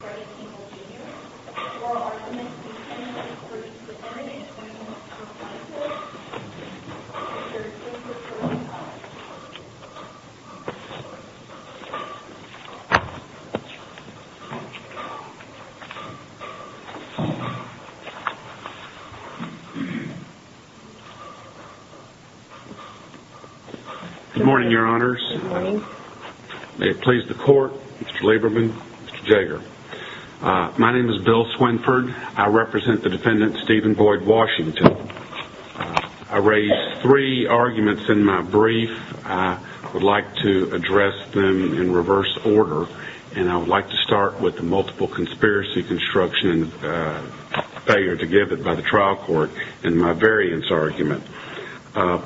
Good morning, your honors, may it please the court, Mr. Lieberman, Mr. Jaeger. My name is Bill Swinford. I represent the defendant, Steven Boyd Washington. I raised three arguments in my brief. I would like to address them in reverse order, and I would like to start with the multiple conspiracy construction failure to give it by the trial court in my variance argument. I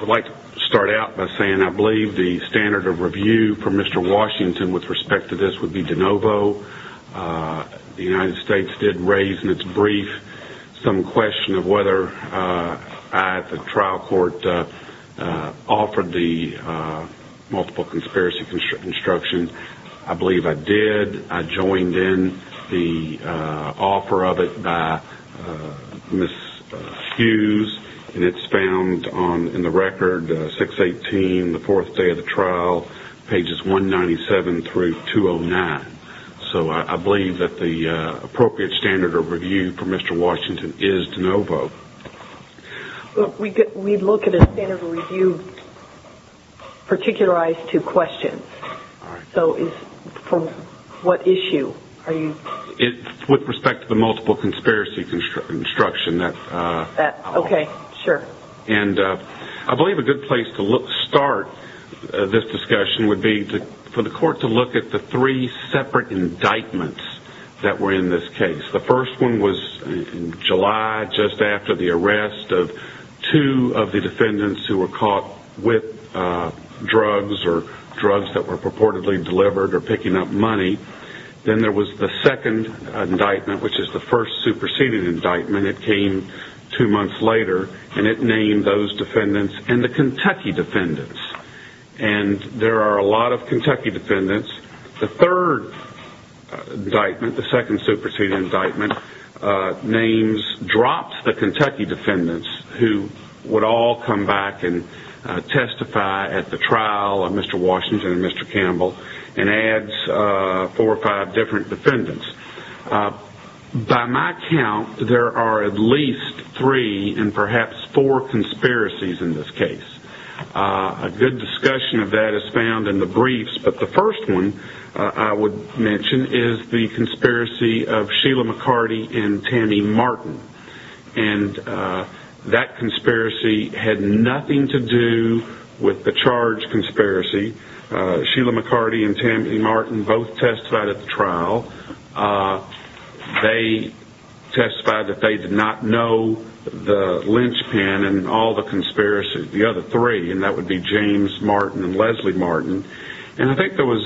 would like to start out by saying I believe the standard of review for Mr. Washington with respect to this would be de novo. The United States did raise in its brief some question of whether I at the trial court offered the multiple conspiracy construction. I believe I did. I joined in the offer of it by Ms. Hughes, and it's found in the record, 618, the fourth day of the trial, pages 197 through 209. So I believe that the appropriate standard of review for Mr. Washington is de novo. We look at a standard of review particularized to questions. So for what issue? With respect to the multiple conspiracy construction. I believe a good place to start this discussion would be for the court to look at the three separate indictments that were in this case. The first one was in July, just after the arrest of two of the defendants who were caught with drugs or drugs that were purportedly delivered or picking up money. Then there was the second indictment, which is the first superseded indictment. It came two months later, and it named those defendants and the Kentucky defendants. And there are a lot of Kentucky defendants. The third indictment, the second superseded indictment, names dropped the Kentucky defendants who would all come back and testify at the trial of Mr. Washington and Mr. Campbell, and adds four or five different defendants. By my count, there are at least three and perhaps four conspiracies in this case. A good discussion of that is found in the briefs, but the first one I would mention is the conspiracy of Sheila McCarty and Tammy Martin. And that conspiracy had nothing to do with the charge conspiracy. Sheila McCarty and Tammy Martin both testified at the trial. They testified that they did not know the linchpin and all the conspiracies, the other three, and that would be James Martin and Leslie Martin. And I think there was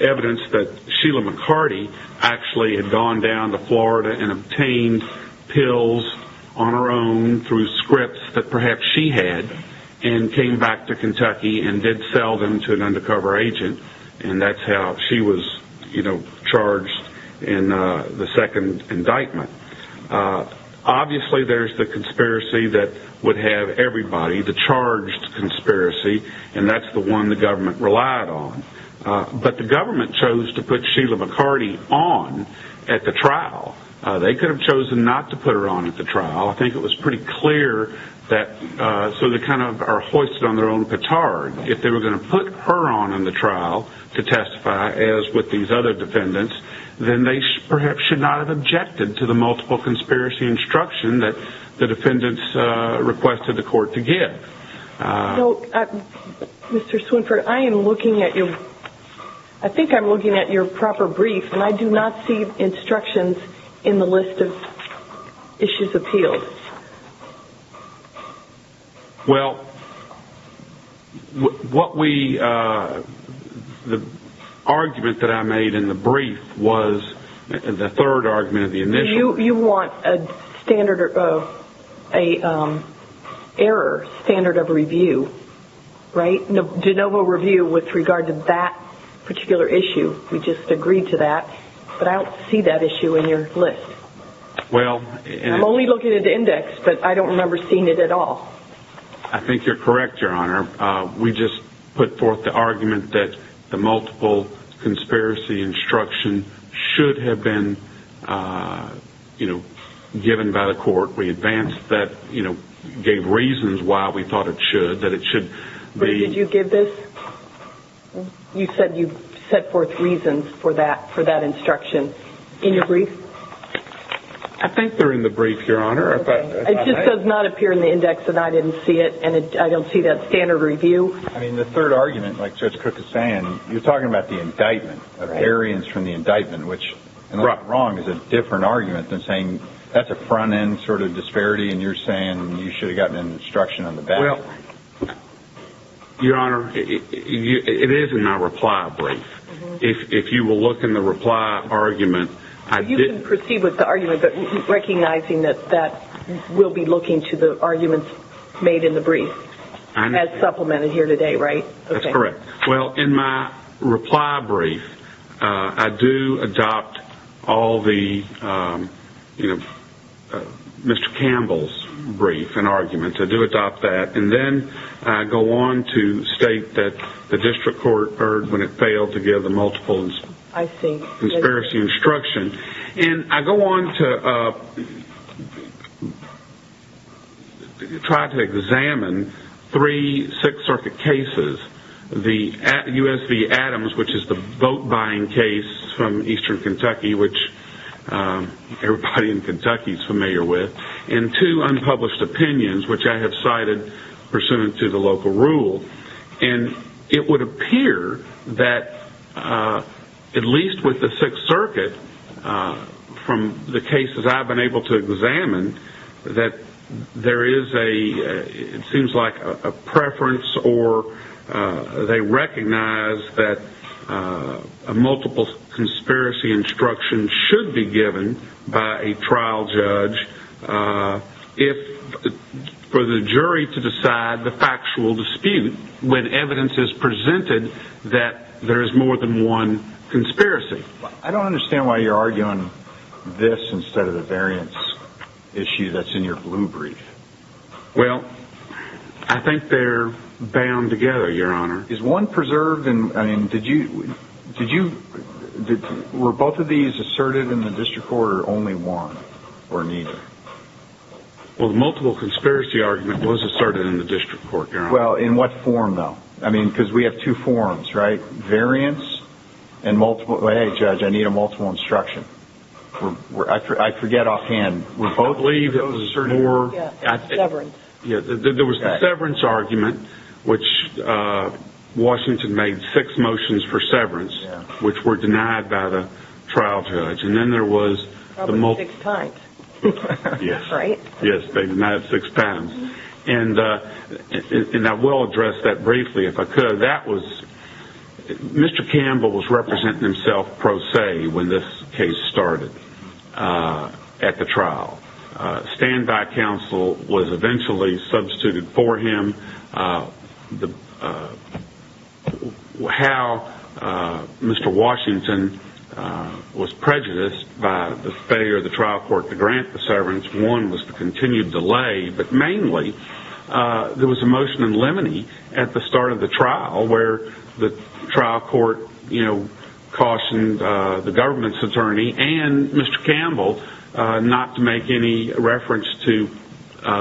evidence that Sheila McCarty actually had gone down to Florida and obtained pills on her own through scripts that perhaps she had and came back to Kentucky and did sell them to an undercover agent. And that's how she was, you know, charged in the second indictment. Obviously there's the conspiracy that would have everybody, the charged conspiracy, and that the government chose to put Sheila McCarty on at the trial. They could have chosen not to put her on at the trial. I think it was pretty clear that so they kind of are hoisted on their own petard. If they were going to put her on in the trial to testify, as with these other defendants, then they perhaps should not have objected to the multiple conspiracy instruction that the defendants requested the court to give. So, Mr. Swinford, I am looking at your, I think I'm looking at your proper brief and I do not see instructions in the list of issues appealed. Well, what we, the argument that I made in the brief was, the third argument of the initial. You want a standard of, an error standard of review, right? A de novo review with regard to that particular issue. We just agreed to that. But I don't see that issue in your list. I'm only looking at the index, but I don't remember seeing it at all. I think you're correct, Your Honor. We just put forth the argument that the multiple conspiracy instruction should have been, you know, given by the court. We advanced that, you know, gave reasons why we thought it should, that it should be... But did you give this? You said you set forth reasons for that, for that instruction. In your brief? I think they're in the brief, Your Honor. It just does not appear in the index that I didn't see it and I don't see that standard review. I mean, the third argument, like Judge Cook is saying, you're talking about the indictment of variance from the indictment, which, and I'm not wrong, is a different argument than saying that's a front-end sort of disparity and you're saying you should have gotten an instruction on the back. Well, Your Honor, it is in my reply brief. If you will look in the reply argument, I didn't... You can proceed with the argument, but recognizing that we'll be looking to the arguments made in the brief as supplemented here today, right? That's correct. Well, in my reply brief, I do adopt all the, you know, Mr. Campbell's brief and argument. I do adopt that and then I go on to state that the district court heard when it failed to give the multiple... I see. ...conspiracy instruction and I go on to try to examine three Sixth Circuit cases, the U.S. v. Adams, which is the boat-buying case from eastern Kentucky, which everybody in Kentucky is familiar with, and two unpublished opinions, which I have cited pursuant to the Sixth Circuit from the cases I've been able to examine, that there is a...it seems like a preference or they recognize that a multiple conspiracy instruction should be given by a trial judge if...for the jury to decide the factual dispute when evidence is presented that there is more than one conspiracy. I don't understand why you're arguing this instead of the variance issue that's in your blue brief. Well, I think they're bound together, Your Honor. Is one preserved in...I mean, did you...did you...were both of these asserted in the district court or only one or neither? Well, the multiple conspiracy argument was asserted in the district court, Your Honor. Well, in what form, though? I mean, because we have two forms, right? Variance and multiple...hey, Judge, I need a multiple instruction. I forget offhand. I believe it was more... Severance. Yeah, there was the severance argument, which Washington made six motions for severance, which were denied by the trial judge. And then there was the multiple... Probably six pints. Yes. Right? Yes, they denied six pints. And I will address that briefly if I could. That was... Mr. Campbell was representing himself pro se when this case started at the trial. Standby counsel was eventually substituted for him. How Mr. Washington was prejudiced by the failure of the trial court to grant the severance, which one was the continued delay, but mainly there was a motion in Lemony at the start of the trial where the trial court, you know, cautioned the government's attorney and Mr. Campbell not to make any reference to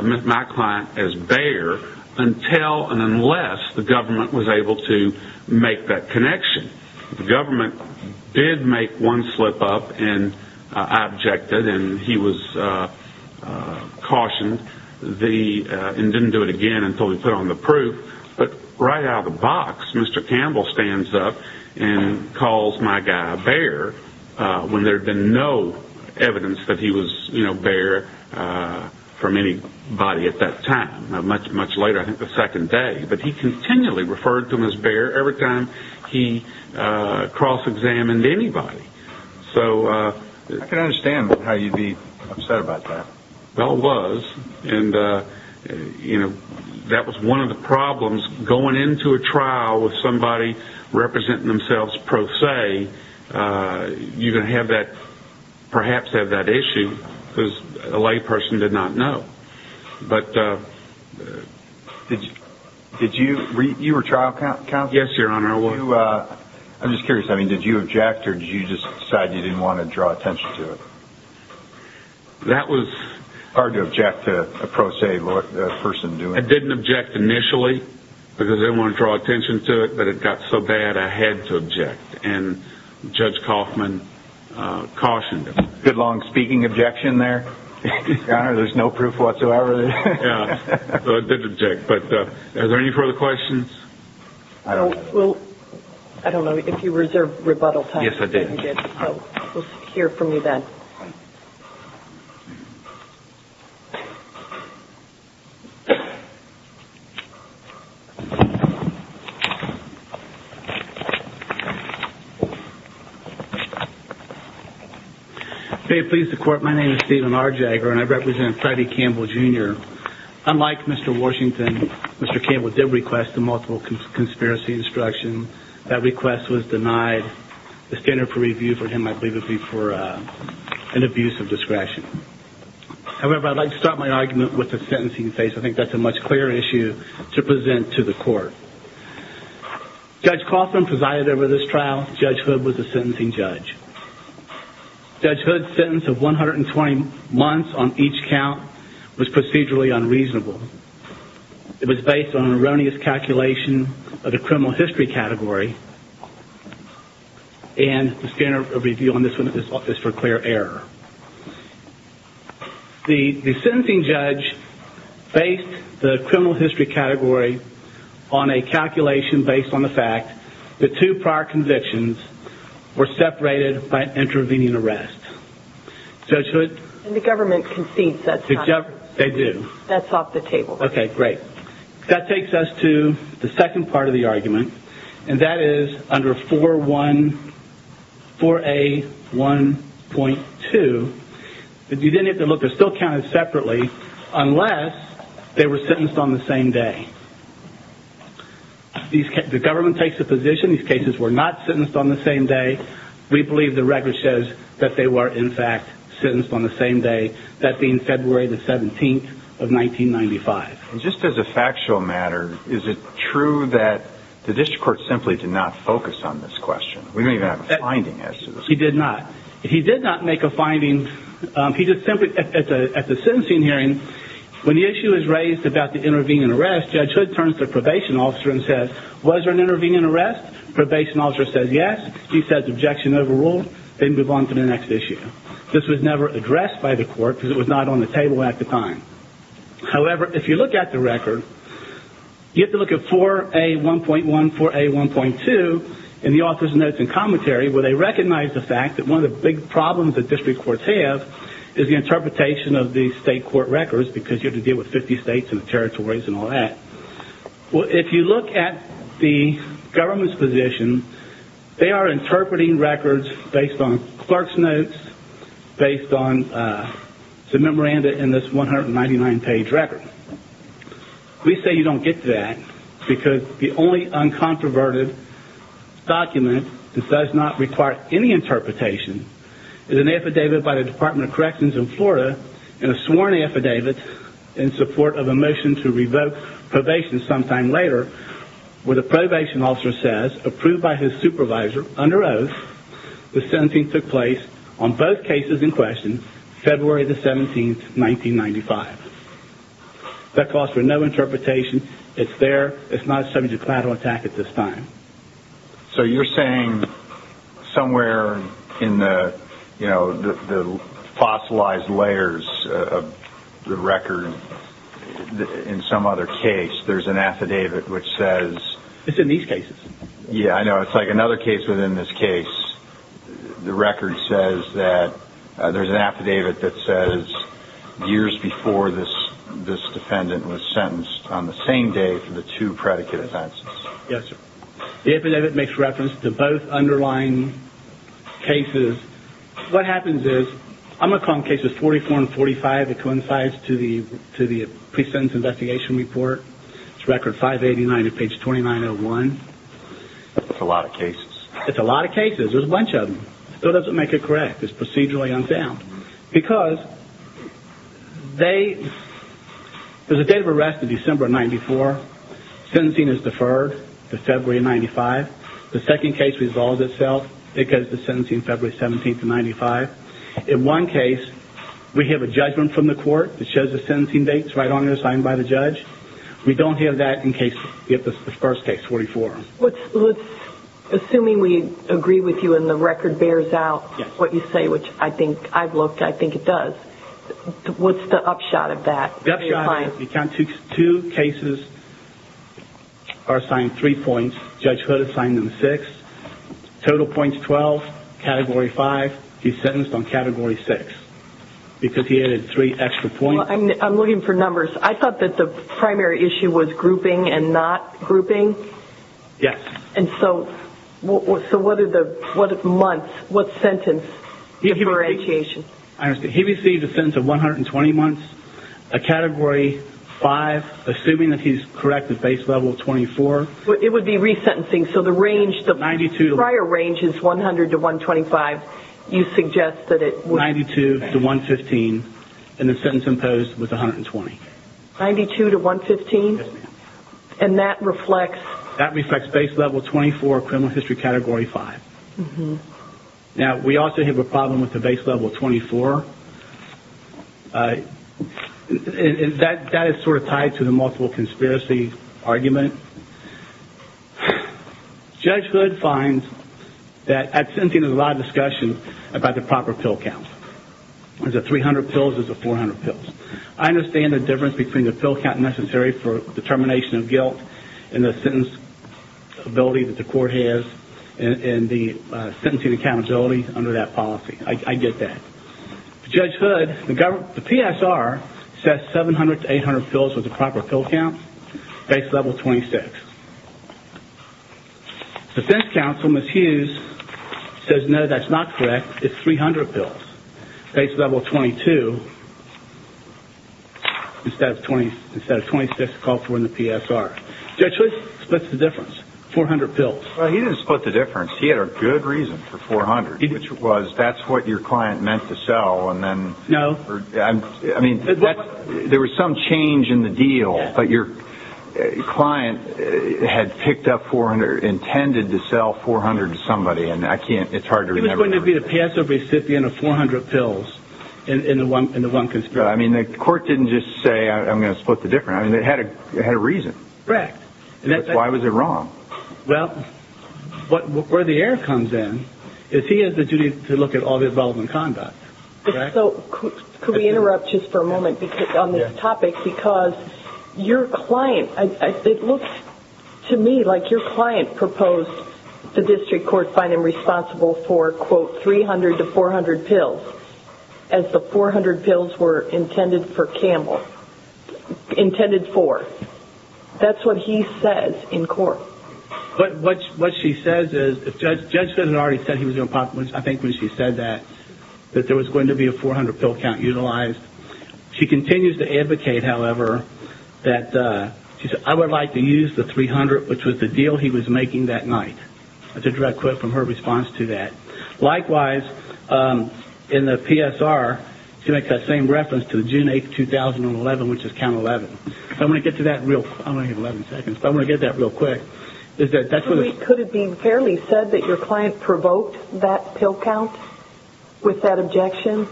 my client as bear until and unless the government was able to make that connection. And the government did make one slip up and I objected and he was cautioned and didn't do it again until we put on the proof. But right out of the box, Mr. Campbell stands up and calls my guy a bear when there had been no evidence that he was, you know, bear from anybody at that time. Much later, I think the second day, but he continually referred to him as bear every time he cross-examined anybody. So... I can understand how you'd be upset about that. Well, it was. And, you know, that was one of the problems going into a trial with somebody representing themselves pro se, you're going to have that, perhaps have that issue because a lay person did not know. But... Did you... You were trial counsel? Yes, Your Honor. I'm just curious. I mean, did you object or did you just decide you didn't want to draw attention to it? That was... Hard to object to a pro se person doing it. I didn't object initially because I didn't want to draw attention to it, but it got so bad I had to object. And Judge Kaufman cautioned. Good long speaking objection there. Your Honor, there's no proof whatsoever there. Yeah. So I did object. But are there any further questions? I don't... We'll... I don't know if you reserved rebuttal time. Yes, I did. So we'll hear from you then. May it please the Court, my name is Stephen R. Jagger and I represent Freddie Campbell Jr. Unlike Mr. Washington, Mr. Campbell did request the multiple conspiracy instruction. That request was denied. The standard for review for him, I believe, would be for an abuse of discretion. However, I'd like to start my argument with the sentencing phase. I think that's a much clearer issue to present to the Court. Judge Kaufman presided over this trial. Judge Hood was the sentencing judge. Judge Hood's sentence of 120 months on each count was procedurally unreasonable. It was based on an erroneous calculation of the criminal history category. And the standard of review on this one is for clear error. The sentencing judge based the criminal history category on a calculation based on the fact that two prior convictions were separated by an intervening arrest. Judge Hood? The government concedes that's not true. They do. That's off the table. Okay, great. That takes us to the second part of the argument and that is under 4A1.2. You didn't have to look, they're still counted separately unless they were sentenced on the same day. The government takes the position these cases were not sentenced on the same day. We believe the record shows that they were in fact sentenced on the same day, that being February the 17th of 1995. Just as a factual matter, is it true that the district court simply did not focus on this question? We don't even have a finding as to this. He did not. He did not make a finding. He just simply, at the sentencing hearing, when the issue is raised about the intervening arrest, Judge Hood turns to the probation officer and says, was there an intervening arrest? Probation officer says yes. He says objection overruled. They move on to the next issue. This was never addressed by the court because it was not on the table at the time. However, if you look at the record, you have to look at 4A1.1, 4A1.2 in the author's notes and commentary where they recognize the fact that one of the big problems that district courts have is the interpretation of the state court records because you have to deal with 50 states and territories and all that. If you look at the government's position, they are interpreting records based on clerk's notes, based on the memoranda in this 199-page record. We say you don't get that because the only uncontroverted document that does not require any interpretation is an affidavit by the Department of Corrections in Florida and a sworn affidavit in support of a motion to revoke probation sometime later where the probation officer says approved by his supervisor under oath the 17th took place on both cases in question, February the 17th, 1995. That calls for no interpretation. It's there. It's not subject matter to attack at this time. So you're saying somewhere in the fossilized layers of the record in some other case there's an affidavit which says... It's in these cases. Yeah, I know. It's like another case within this case. The record says that there's an affidavit that says years before this defendant was sentenced on the same day for the two predicate offenses. Yes, sir. The affidavit makes reference to both underlying cases. What happens is... I'm going to call them cases 44 and 45 that coincides to the pre-sentence investigation report. It's record 589 at page 2901. That's a lot of cases. It's a lot of cases. There's a bunch of them. So it doesn't make it correct. It's procedurally unsound. Because they... There's a date of arrest of December 94. Sentencing is deferred to February 95. The second case resolves itself because the sentencing is February 17, 95. In one case, we have a judgment from the court that shows the sentencing dates right on there signed by the judge. We don't have that in case... The first case, 44. Assuming we agree with you and the record bears out what you say, which I think... I've looked. I think it does. What's the upshot of that? The upshot is we count 2 cases are assigned 3 points. Judge Hood assigned them 6. Total points, 12. Category 5. He's sentenced on Category 6 because he added 3 extra points. I'm looking for numbers. I thought that the primary issue was grouping and not grouping. Yes. And so... So what are the months? What sentence differentiation? I understand. He received a sentence of 120 months. A Category 5. Assuming that he's correct at Base Level 24. It would be resentencing. So the range... 92. The prior range is 100 to 125. You suggest that it would... 92 to 115. And the sentence imposed was 120. 92 to 115? Yes, ma'am. And that reflects... That reflects Base Level 24, Criminal History Category 5. Mm-hmm. Now, we also have a problem with the Base Level 24. Uh... And that is sort of tied to the multiple conspiracy argument. Judge Hood finds that at sentencing, there's a lot of discussion about the proper pill count. Is it 300 pills or is it 400 pills? I understand the difference between the pill count necessary for determination of guilt and the sentence ability that the court has and the sentencing accountability under that policy. I get that. Judge Hood, the PSR says 700 to 800 pills was the proper pill count. Base Level 26. Defense counsel, Ms. Hughes, says, no, that's not correct. It's 300 pills. Base Level 22... instead of 26 called for in the PSR. Judge Hood splits the difference. 400 pills. Well, he didn't split the difference. He had a good reason for 400, which was that's what your client meant to sell, and then... No. I mean, there was some change in the deal, but your client had picked up 400, intended to sell 400 to somebody, and I can't... It's hard to remember. He was going to be the Passover recipient of 400 pills in the one conspiracy. I mean, the court didn't just say, I'm going to split the difference. I mean, it had a reason. Correct. Why was it wrong? Well, where the error comes in is he has the duty to look at all the involved in conduct. Correct? Could we interrupt just for a moment on this topic? Because your client... It looks to me like your client proposed the district court find him responsible for, quote, 300 to 400 pills as the 400 pills were intended for Campbell. Intended for. That's what he says in court. What she says is... Judge Smith had already said he was going to... I think when she said that, that there was going to be a 400-pill count utilized. She continues to advocate, however, that she said, I would like to use the 300, which was the deal he was making that night. That's a direct quote from her response to that. Likewise, in the PSR, she makes that same reference to June 8, 2011, which is count 11. So I'm going to get to that real... I'm going to get 11 seconds, but I'm going to get that real quick. Could it be fairly said that your client provoked that pill count with that objection?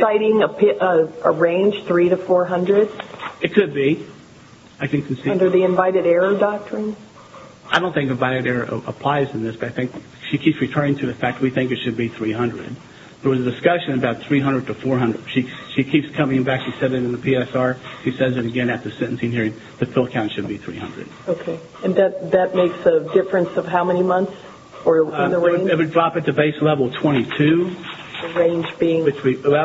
Citing a range, 300 to 400? It could be. Under the invited error doctrine? I don't think invited error applies in this, but I think she keeps returning to the fact we think it should be 300. There was a discussion about 300 to 400. She keeps coming back. She said it in the PSR. She says it again at the sentencing hearing that the pill count should be 300. And that makes a difference of how many months? It would drop at the base level of 22. The range being? That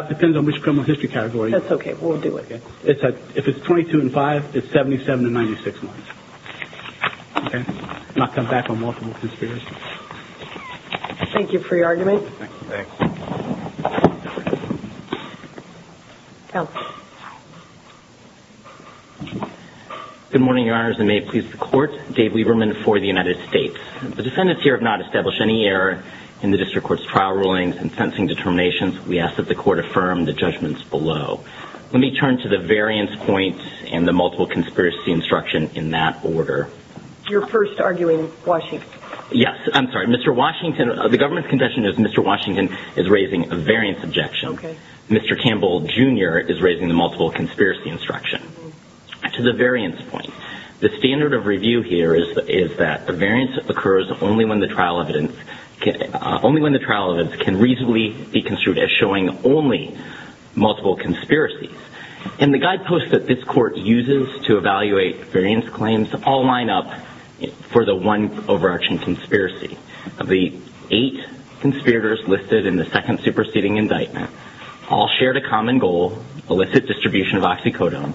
depends on which criminal history category. That's okay. We'll do it. If it's 22 and 5, it's 77 to 96 months. Okay? Not come back on multiple conspiracies. Thank you for your argument. Thanks. Thank you. Good morning, Your Honors, and may it please the Court. Dave Lieberman for the United States. The defendants here have not established any error in the District Court's trial rulings and sentencing determinations. We ask that the Court affirm the judgments below. Let me turn to the variance points and the multiple conspiracy instruction in that order. You're first arguing Washington. Yes, I'm sorry. Mr. Washington, the government's confession is Mr. Washington is raising a variance objection. Okay. Mr. Campbell, Jr. is raising the multiple conspiracy instruction. Okay. To the variance point, the standard of review here is that the variance occurs only when the trial evidence... only when the trial evidence can reasonably be construed as showing only multiple conspiracies. And the guideposts that this Court uses to evaluate variance claims all line up for the one overarching conspiracy. Of the eight conspirators listed in the second superseding indictment, all shared a common goal, illicit distribution of oxycodone.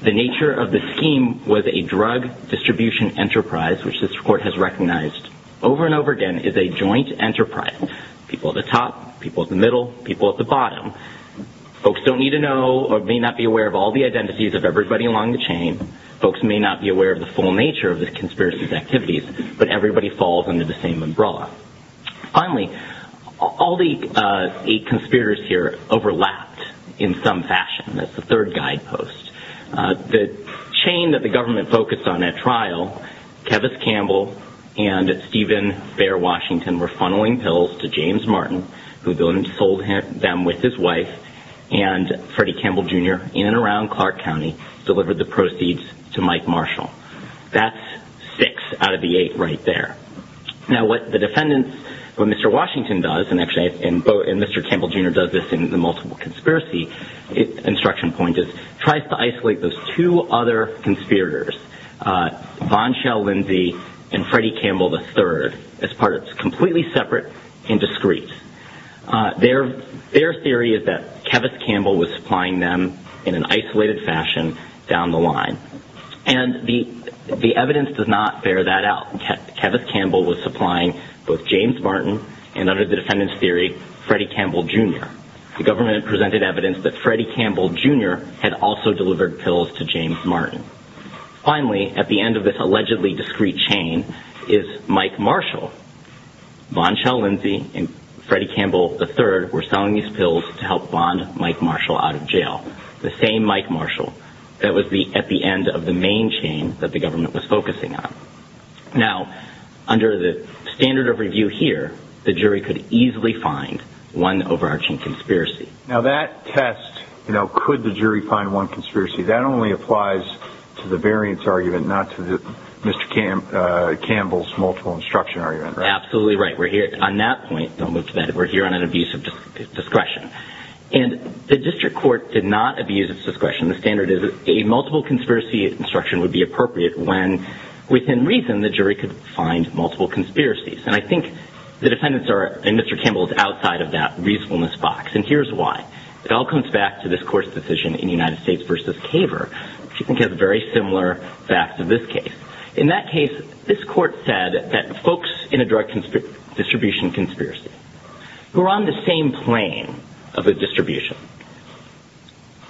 The nature of the scheme was a drug distribution enterprise, which this Court has recognized over and over again is a joint enterprise. People at the top, people at the middle, people at the bottom. Folks don't need to know or may not be aware of all the identities of everybody along the chain. Folks may not be aware of the full nature of the conspiracy's activities, but everybody falls under the same umbrella. Finally, all the eight conspirators here overlapped in some fashion. That's the third guidepost. The chain that the government focused on at trial, Kevis Campbell and Stephen Bear Washington were funneling pills to James Martin, who then sold them with his wife, and Freddie Campbell, Jr., in and around Clark County, delivered the proceeds to Mike Marshall. That's six out of the eight right there. Now, what the defendants, what Mr. Washington does, and actually, and Mr. Campbell, Jr. does this in the multiple conspiracy instruction point, is tries to isolate those two other conspirators, Von Schell-Lindsay and Freddie Campbell III, as part of this completely separate and discreet. Their theory is that Kevis Campbell was supplying them in an isolated fashion down the line. And the evidence does not bear that out. Kevis Campbell was supplying both James Martin and, under the defendant's theory, Freddie Campbell, Jr. The government presented evidence that Freddie Campbell, Jr. had also delivered pills to James Martin. Finally, at the end of this allegedly discreet chain is Mike Marshall. Von Schell-Lindsay and Freddie Campbell III were selling these pills to help bond Mike Marshall out of jail. The same Mike Marshall that was at the end of the main chain that the government was focusing on. Now, under the standard of review here, the jury could easily find one overarching conspiracy. Now, that test, you know, could the jury find one conspiracy, that only applies to the variance argument, not to Mr. Campbell's multiple instruction argument, right? Absolutely right. We're here, on that point, don't move to that, we're here on an abuse of discretion. And the district court did not abuse its discretion. The standard is a multiple conspiracy instruction would be appropriate when, within reason, the jury could find multiple conspiracies. And I think the defendants are, and Mr. Campbell is outside of that reasonableness box. And here's why. It all comes back to this court's decision in United States v. Caver, which I think has very similar facts in this case. In that case, this court said that folks in a drug distribution conspiracy who are on the same plane of a distribution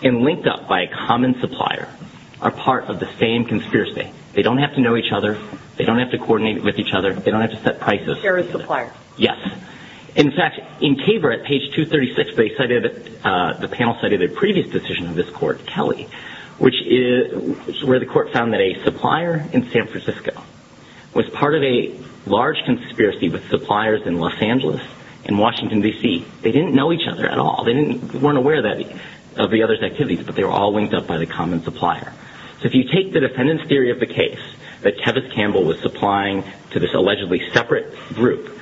and linked up by a common supplier are part of the same conspiracy. They don't have to know each other, they don't have to coordinate with each other, they don't have to set prices. They're a supplier. Yes. In fact, in Caver, at page 236, the panel cited a previous decision of this court, Kelly, where the court found that a supplier in San Francisco was part of a large conspiracy with suppliers in Los Angeles and Washington, D.C. They didn't know each other at all. They weren't aware of the other's activities, but they were all linked up by the common supplier. So if you take the defendant's theory of the case, that Kevith Campbell was supplying to this allegedly separate group,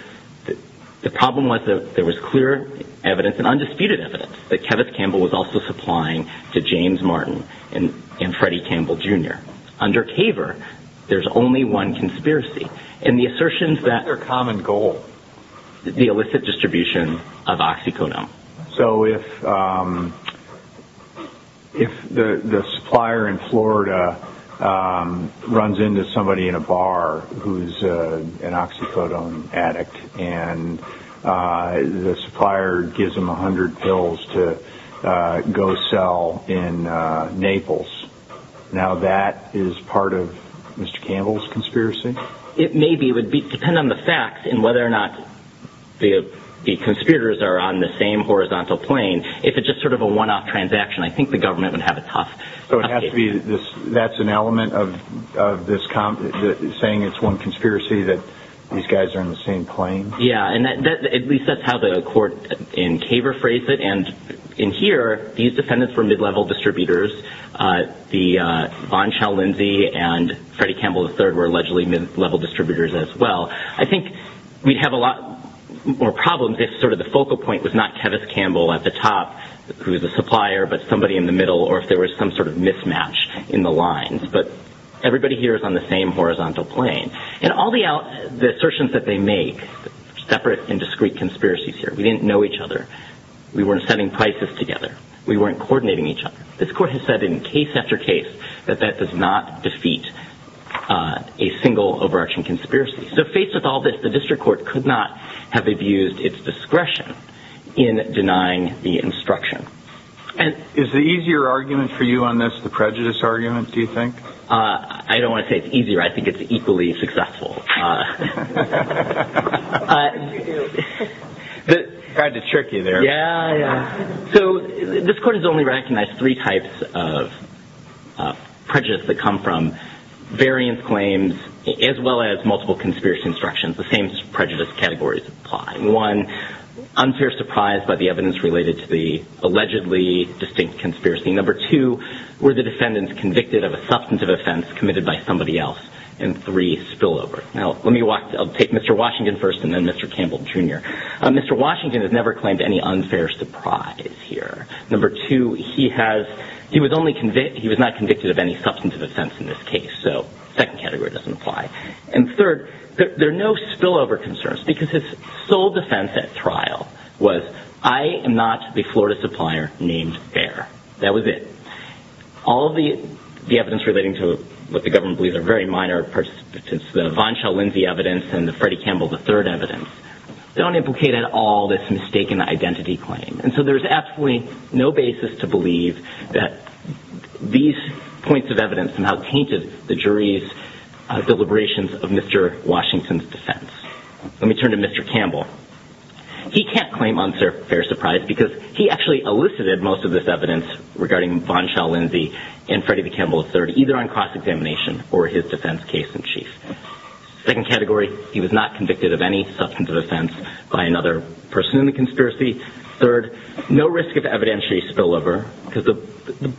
the problem was that there was clear evidence and undisputed evidence that Kevith Campbell was also supplying to James Martin and Freddie Campbell, Jr. Under Caver, there's only one conspiracy. And the assertions that... What's their common goal? The illicit distribution of oxycodone. So if... If the supplier in Florida runs into somebody in a bar who's an oxycodone addict and the supplier gives him 100 pills to go sell in Naples, now that is part of Mr. Campbell's conspiracy? It may be. It would depend on the facts and whether or not the conspirators are on the same horizontal plane. If it's just sort of a one-off transaction, I think the government would have a tough... So it has to be... That's an element of this... saying it's one conspiracy that these guys are in the same plane? Yeah, and that... At least that's how the court in Caver phrased it. And in here, these defendants were mid-level distributors. The... Von Schell Lindsey and Freddie Campbell III were allegedly mid-level distributors as well. I think we'd have a lot more problems if sort of the focal point was not Tevis Campbell at the top who is a supplier but somebody in the middle or if there was some sort of mismatch in the lines. But everybody here is on the same horizontal plane. And all the assertions that they make, separate and discrete conspiracies here, we didn't know each other. We weren't setting prices together. We weren't coordinating each other. This court has said in case after case that that does not defeat a single over-action conspiracy. So faced with all this, the district court could not have abused its discretion in denying the instruction. And... Is the easier argument for you on this the prejudice argument, do you think? I don't want to say it's easier. I think it's equally successful. Uh... What did you do? Tried to trick you there. Yeah, yeah. So this court has only recognized three types of prejudice that come from variance claims as well as multiple conspiracy instructions. The same prejudice categories apply. One, unfair surprise by the evidence related to the allegedly distinct conspiracy. Number two, were the defendants convicted of a substantive offense committed by somebody else? And three, spillover. Now, let me walk... I'll take Mr. Washington first and then Mr. Campbell, Jr. Mr. Washington has never claimed any unfair surprise here. Number two, he has... He was only convict... He was not convicted of any substantive offense in this case. So, second category doesn't apply. And third, there are no spillover concerns because his sole defense at trial was, I am not the Florida supplier named Bear. That was it. All the evidence relating to what the government believes are very minor participants, the Von Schell-Lindsey evidence and the Freddie Campbell III evidence this mistaken identity claim. And so there's absolutely no basis to believe that these points of evidence somehow tainted the jury's deliberations of Mr. Washington's defense. Let me turn to Mr. Campbell. He can't claim unfair surprise because he actually elicited most of this evidence regarding Von Schell-Lindsey and Freddie Campbell III either on cross-examination or his defense case in chief. Second category, he was not convicted of any substantive offense by another person in the conspiracy. Third, no risk of evidentiary spillover because the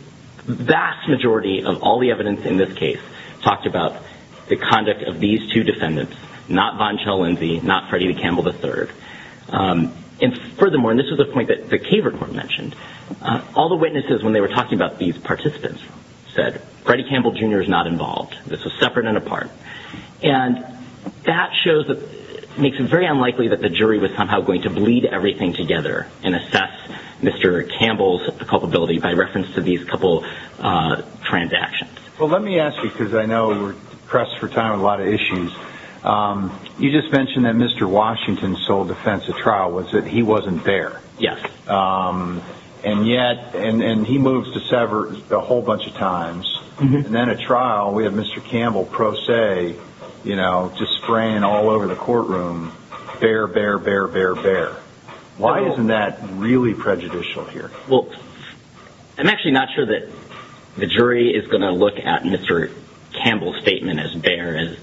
vast majority of all the evidence in this case talked about the conduct of these two defendants, not Von Schell-Lindsey, not Freddie Campbell III. And furthermore, and this is the point that the Kaver Court mentioned, all the witnesses when they were talking about these participants said, Freddie Campbell Jr. is not involved. This was separate and apart. And that shows that it makes it very unlikely that the jury was somehow going to bleed everything together and assess Mr. Campbell's culpability by reference to these couple transactions. Well, let me ask you because I know we're pressed for time with a lot of issues. You just mentioned that Mr. Washington sold the fence at trial. Was it? He wasn't there. Yes. And yet, and he moves to sever a whole bunch of times. And then at trial, we have Mr. Campbell pro se, you know, just spraying all over the courtroom. Bare, bare, bare, bare, bare. Why isn't that really prejudicial here? Well, I'm actually not sure that the jury is going to look at Mr. Campbell's as,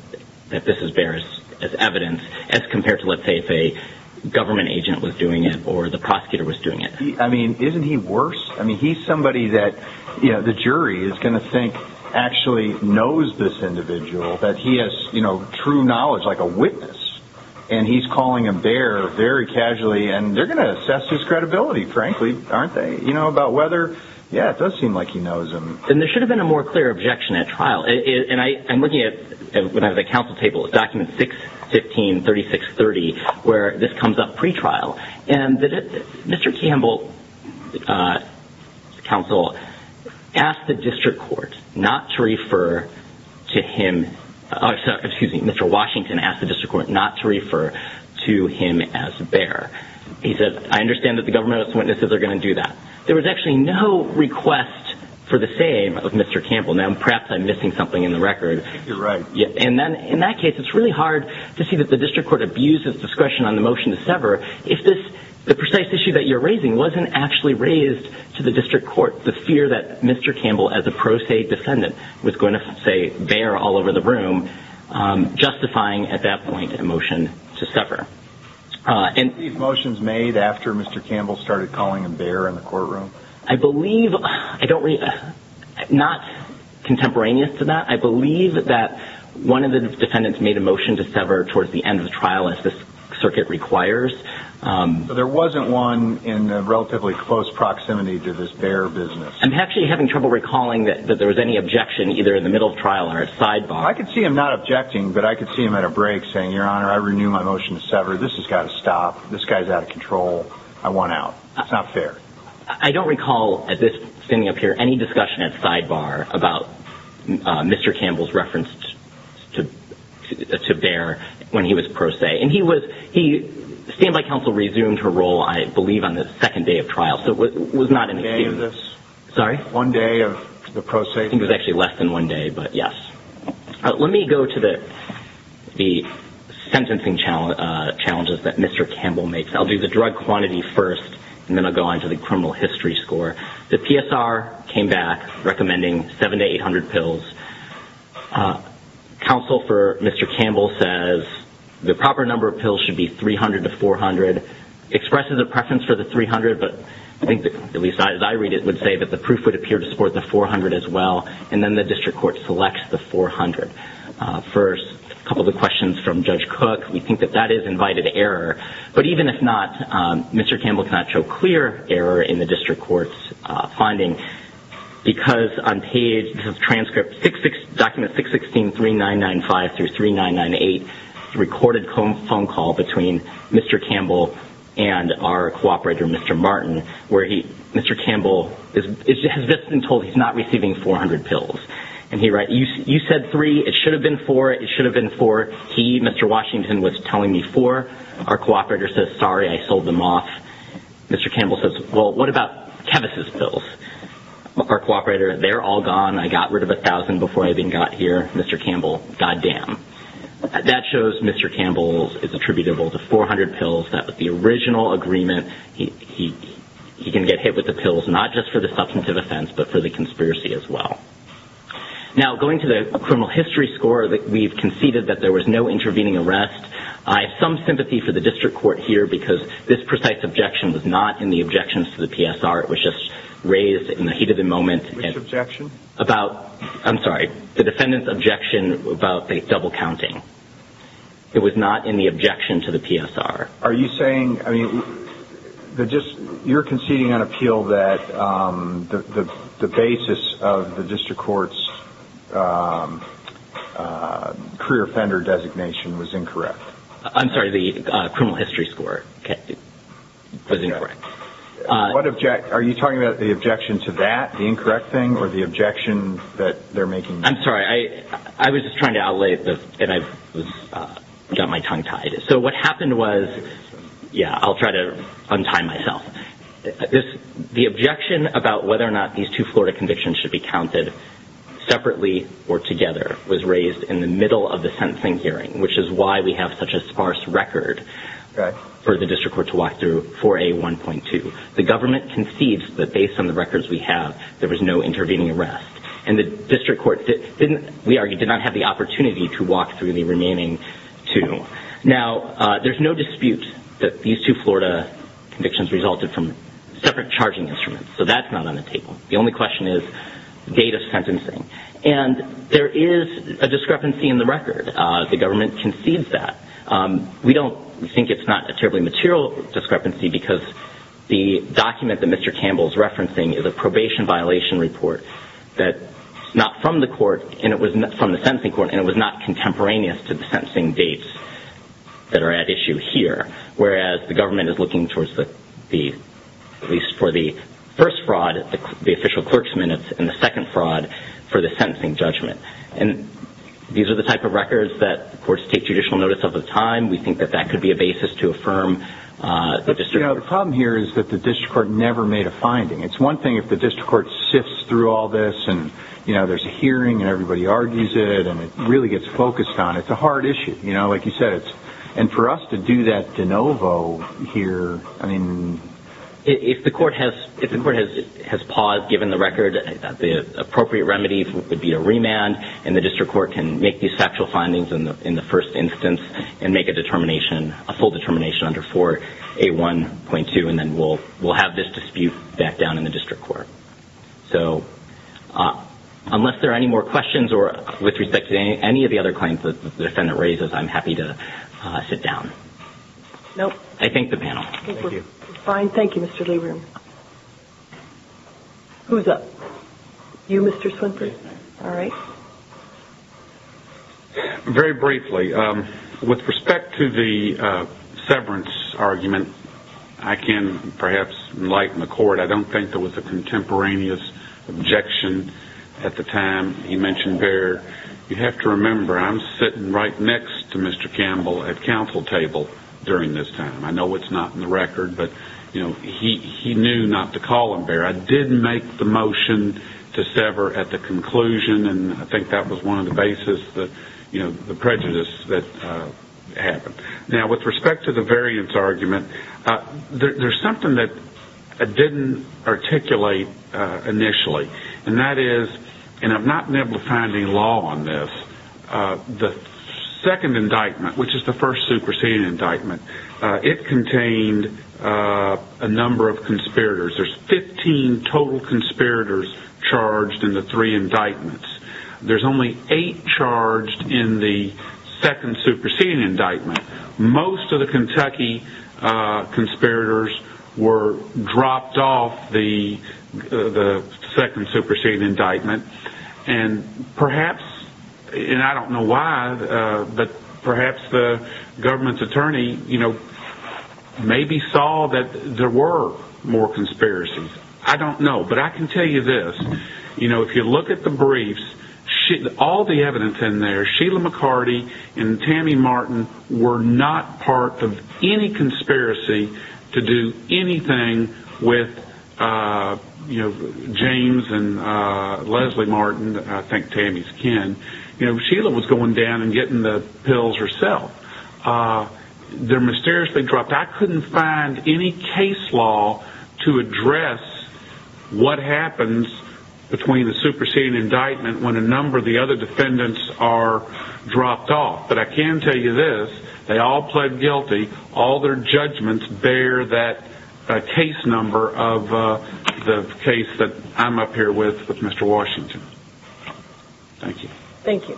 that this is bare as evidence as compared to, let's say, if a government agent was doing it or the prosecutor was doing it. I mean, isn't he worse? I mean, he's somebody that, you know, the jury is going to think actually knows this individual that he has, you know, true knowledge like a witness and he's calling him bare very casually and they're going to assess his credibility, frankly, aren't they? You know, about whether, yeah, it does seem like he knows him. And there should have been a more clear objection at trial. And I'm looking at, when I have a counsel table, document 6153630 where this comes up pre-trial and Mr. Campbell counsel asked the district court not to refer to him, excuse me, Mr. Washington asked the district court not to refer to him as bare. He said, I understand that the government's witnesses are going to do that. There was actually no request for the same of Mr. Campbell. Now, perhaps I'm missing something in the record. You're right. And then, in that case, it's really hard to see that the district court abuses discretion on the motion to sever if this, the precise issue that you're raising wasn't actually raised to the district court. The fear that Mr. Campbell as a pro se defendant was going to say bare all over the room justifying at that point a motion to sever. And, these motions made after Mr. Campbell started calling him bare in the courtroom? I believe, I don't really, not contemporaneous to that. I believe that one of the defendants made a motion to sever towards the end of the trial unless this circuit requires. So, there wasn't one in the relatively close proximity to this bare business? I'm actually having trouble recalling that there was any objection either in the middle of trial or at sidebar. I could see him not objecting, but I could see him at a break saying, Your Honor, I renew my motion to sever. This has got to stop. This guy's out of control. I want out. It's not fair. I don't recall at this, standing up here, any discussion at sidebar about Mr. Campbell's reference to bare when he was pro se. And he was, he, standby counsel resumed her role, I believe, on the second day of trial. One day of this? Sorry? One day of the pro se trial? I think it was actually less than one day, but yes. Let me go to the sentencing challenges that Mr. Campbell makes. I'll do the drug quantity first and then I'll go on to the criminal history score. The PSR came back recommending seven to eight hundred pills. Counsel for Mr. Campbell says the proper number of pills should be three hundred to four hundred. Expresses a preference for the three hundred, but I think at least as I read it, would say that the proof would appear to support the four hundred as well. And then the second error in the district court's finding because on page this is transcript document 616-3995 through 3998 recorded phone call between Mr. Campbell and our cooperator Mr. Martin where he Mr. Campbell has just been told he's not receiving four hundred pills. And he writes you said three it should have been four it should have been four he, Mr. Washington was telling me four our cooperator says sorry I sold them off Mr. Campbell says well what about Kevis' pills our cooperator they're all gone I got rid of a thousand before I even got here Mr. Campbell god damn that shows Mr. Campbell is attributable to four hundred pills that was the original agreement he had no intervening arrest I have some sympathy for the district court here because this precise objection was not in the objections to the PSR it was just raised in the heat of the moment which objection about I'm sorry the defendant's objection about the double counting it was not in the objection to the PSR are you saying you're conceding on appeal that the basis of the district court's career offender designation was incorrect I'm sorry the criminal history score was incorrect are you talking about the objection to that the incorrect thing or the objection that they're making I'm sorry I was just got my tongue tied so what happened was yeah I'll try to untie myself the objection about whether or not these two Florida convictions should be counted separately or together was raised in the middle of the sentencing hearing which is why we have such a sparse record for the district court to walk through 4A 1.2 the government concedes that based on the records we have there was no intervening arrest and the district court did not have the opportunity to walk through the remaining two now there's no dispute that these two Florida convictions resulted from separate charging instruments so that's not on the table the only I have with this agency because the document that Mr. Campbell's referencing is a probation violation report that not from the court and it was not from the sentencing court and it was not contemporaneous to the sentencing dates that are at issue here whereas the government is looking for the first fraud the official clerks minutes and the second fraud for the sentencing judgment and these are the type of records that courts take judicial notice of the time we think that that could be a basis to affirm the district the problem here is that the district court never made a finding it's one thing if the district court sifts through all this and you know there's a hearing and everybody argues it and it really gets focused on it it's a hard issue and for us to do that de novo here I mean if the court has paused given the record the appropriate remedies would be a remand and the district court can make these factual findings in the first instance and make a determination a full and if the defendant raises I'm happy to sit down I thank the panel fine thank you Mr. Leibroom who's up you Mr. Swinford all right very briefly with respect to the severance argument I can perhaps enlighten the court I don't think there was a contemporaneous objection at the time you mentioned right next to Mr. Campbell at council table during this time I know it's not in the record but he knew not to call him there I did make the motion to sever at the conclusion and I think that was one of the prejudices that happened now with respect to the variance argument there's something that didn't articulate initially and that is and I'm not able to find any law on this the second indictment which is the first superseding indictment it contained a number of conspirators there's 15 total conspirators charged in the three indictments there's only 8 charged in the second superseding indictment most of the Kentucky conspirators were dropped off the second superseding indictment and perhaps and I don't know I don't know but I can tell you this you know if you look at the briefs all the evidence in there Sheila McCarty and Tammy Martin were not part of any conspiracy to do anything with James and Leslie Martin I think Tammy's kin you know Sheila was going down and getting the pills herself they're mysteriously dropped I couldn't find any case law to address what happens between the superseding indictment when a number of the other defendants are dropped off but I can tell you this they all pled guilty all their judgments bear that case number of the case that I'm up here with Mr. Washington Thank you Thank you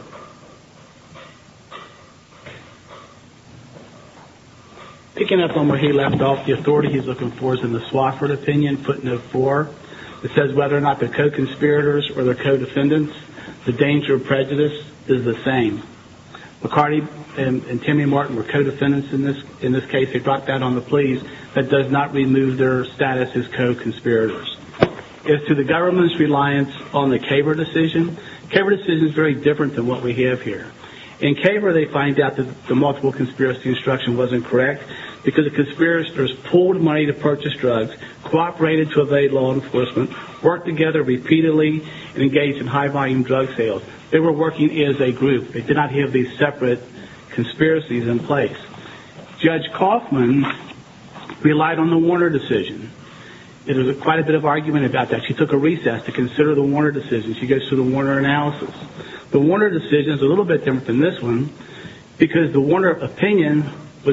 Picking up on where he left off the authority he's looking for is in the Swofford opinion footnote four it says whether or not the and Timmy Martin were co-defendants in this in this case they dropped that on the pleas that does not remove their status as co-conspirators as to the government's reliance on the CABR decision CABR decision is very different than what we have here in CABR they find out that the multiple conspiracy instruction was incorrect because the conspirators pulled money to purchase drugs cooperated to evade law enforcement worked together repeatedly engaged in high volume drug sales they were working as a group they did not have these separate conspiracies in place Judge Kaufman relied on the Warner decision there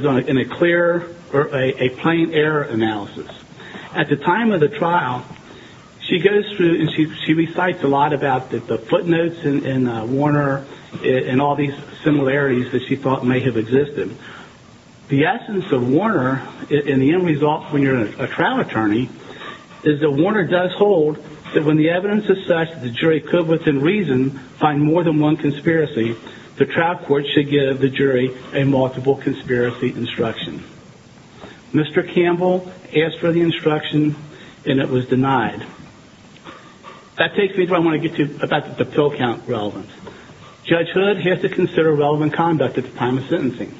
was in a clear or a plain error analysis at the time of the trial she goes through and she recites a lot about the footnotes in Warner and all these similarities that she thought may have existed the essence of Warner in the end result when you're a trial attorney is that Warner does hold that when the evidence is such that the jury could within reason find more than one conspiracy the trial court should give the jury a multiple conspiracy instruction Mr. Campbell asked for the instruction and it was denied that takes me to where I want to get to about the pill count relevance Judge Hood has to consider relevant conduct at the time of sentencing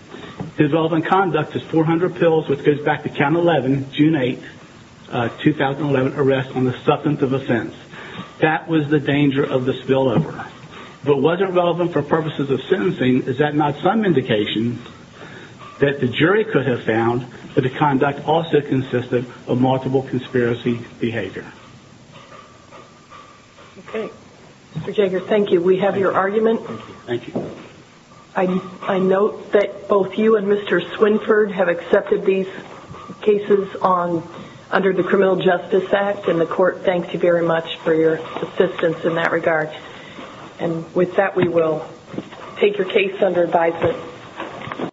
his relevant conduct is 400 pills which goes back to count 11 June 8, 2011 arrest on the grounds that not some indication that the jury could have found that the conduct also consisted of multiple conspiracy behavior okay Mr. Jagger thank you we have your argument thank you I note that both you and Mr. Swinford have accepted these cases on under the Criminal Justice Act and the court thanks you very much for your input and it thank you I'm pleased to be here...................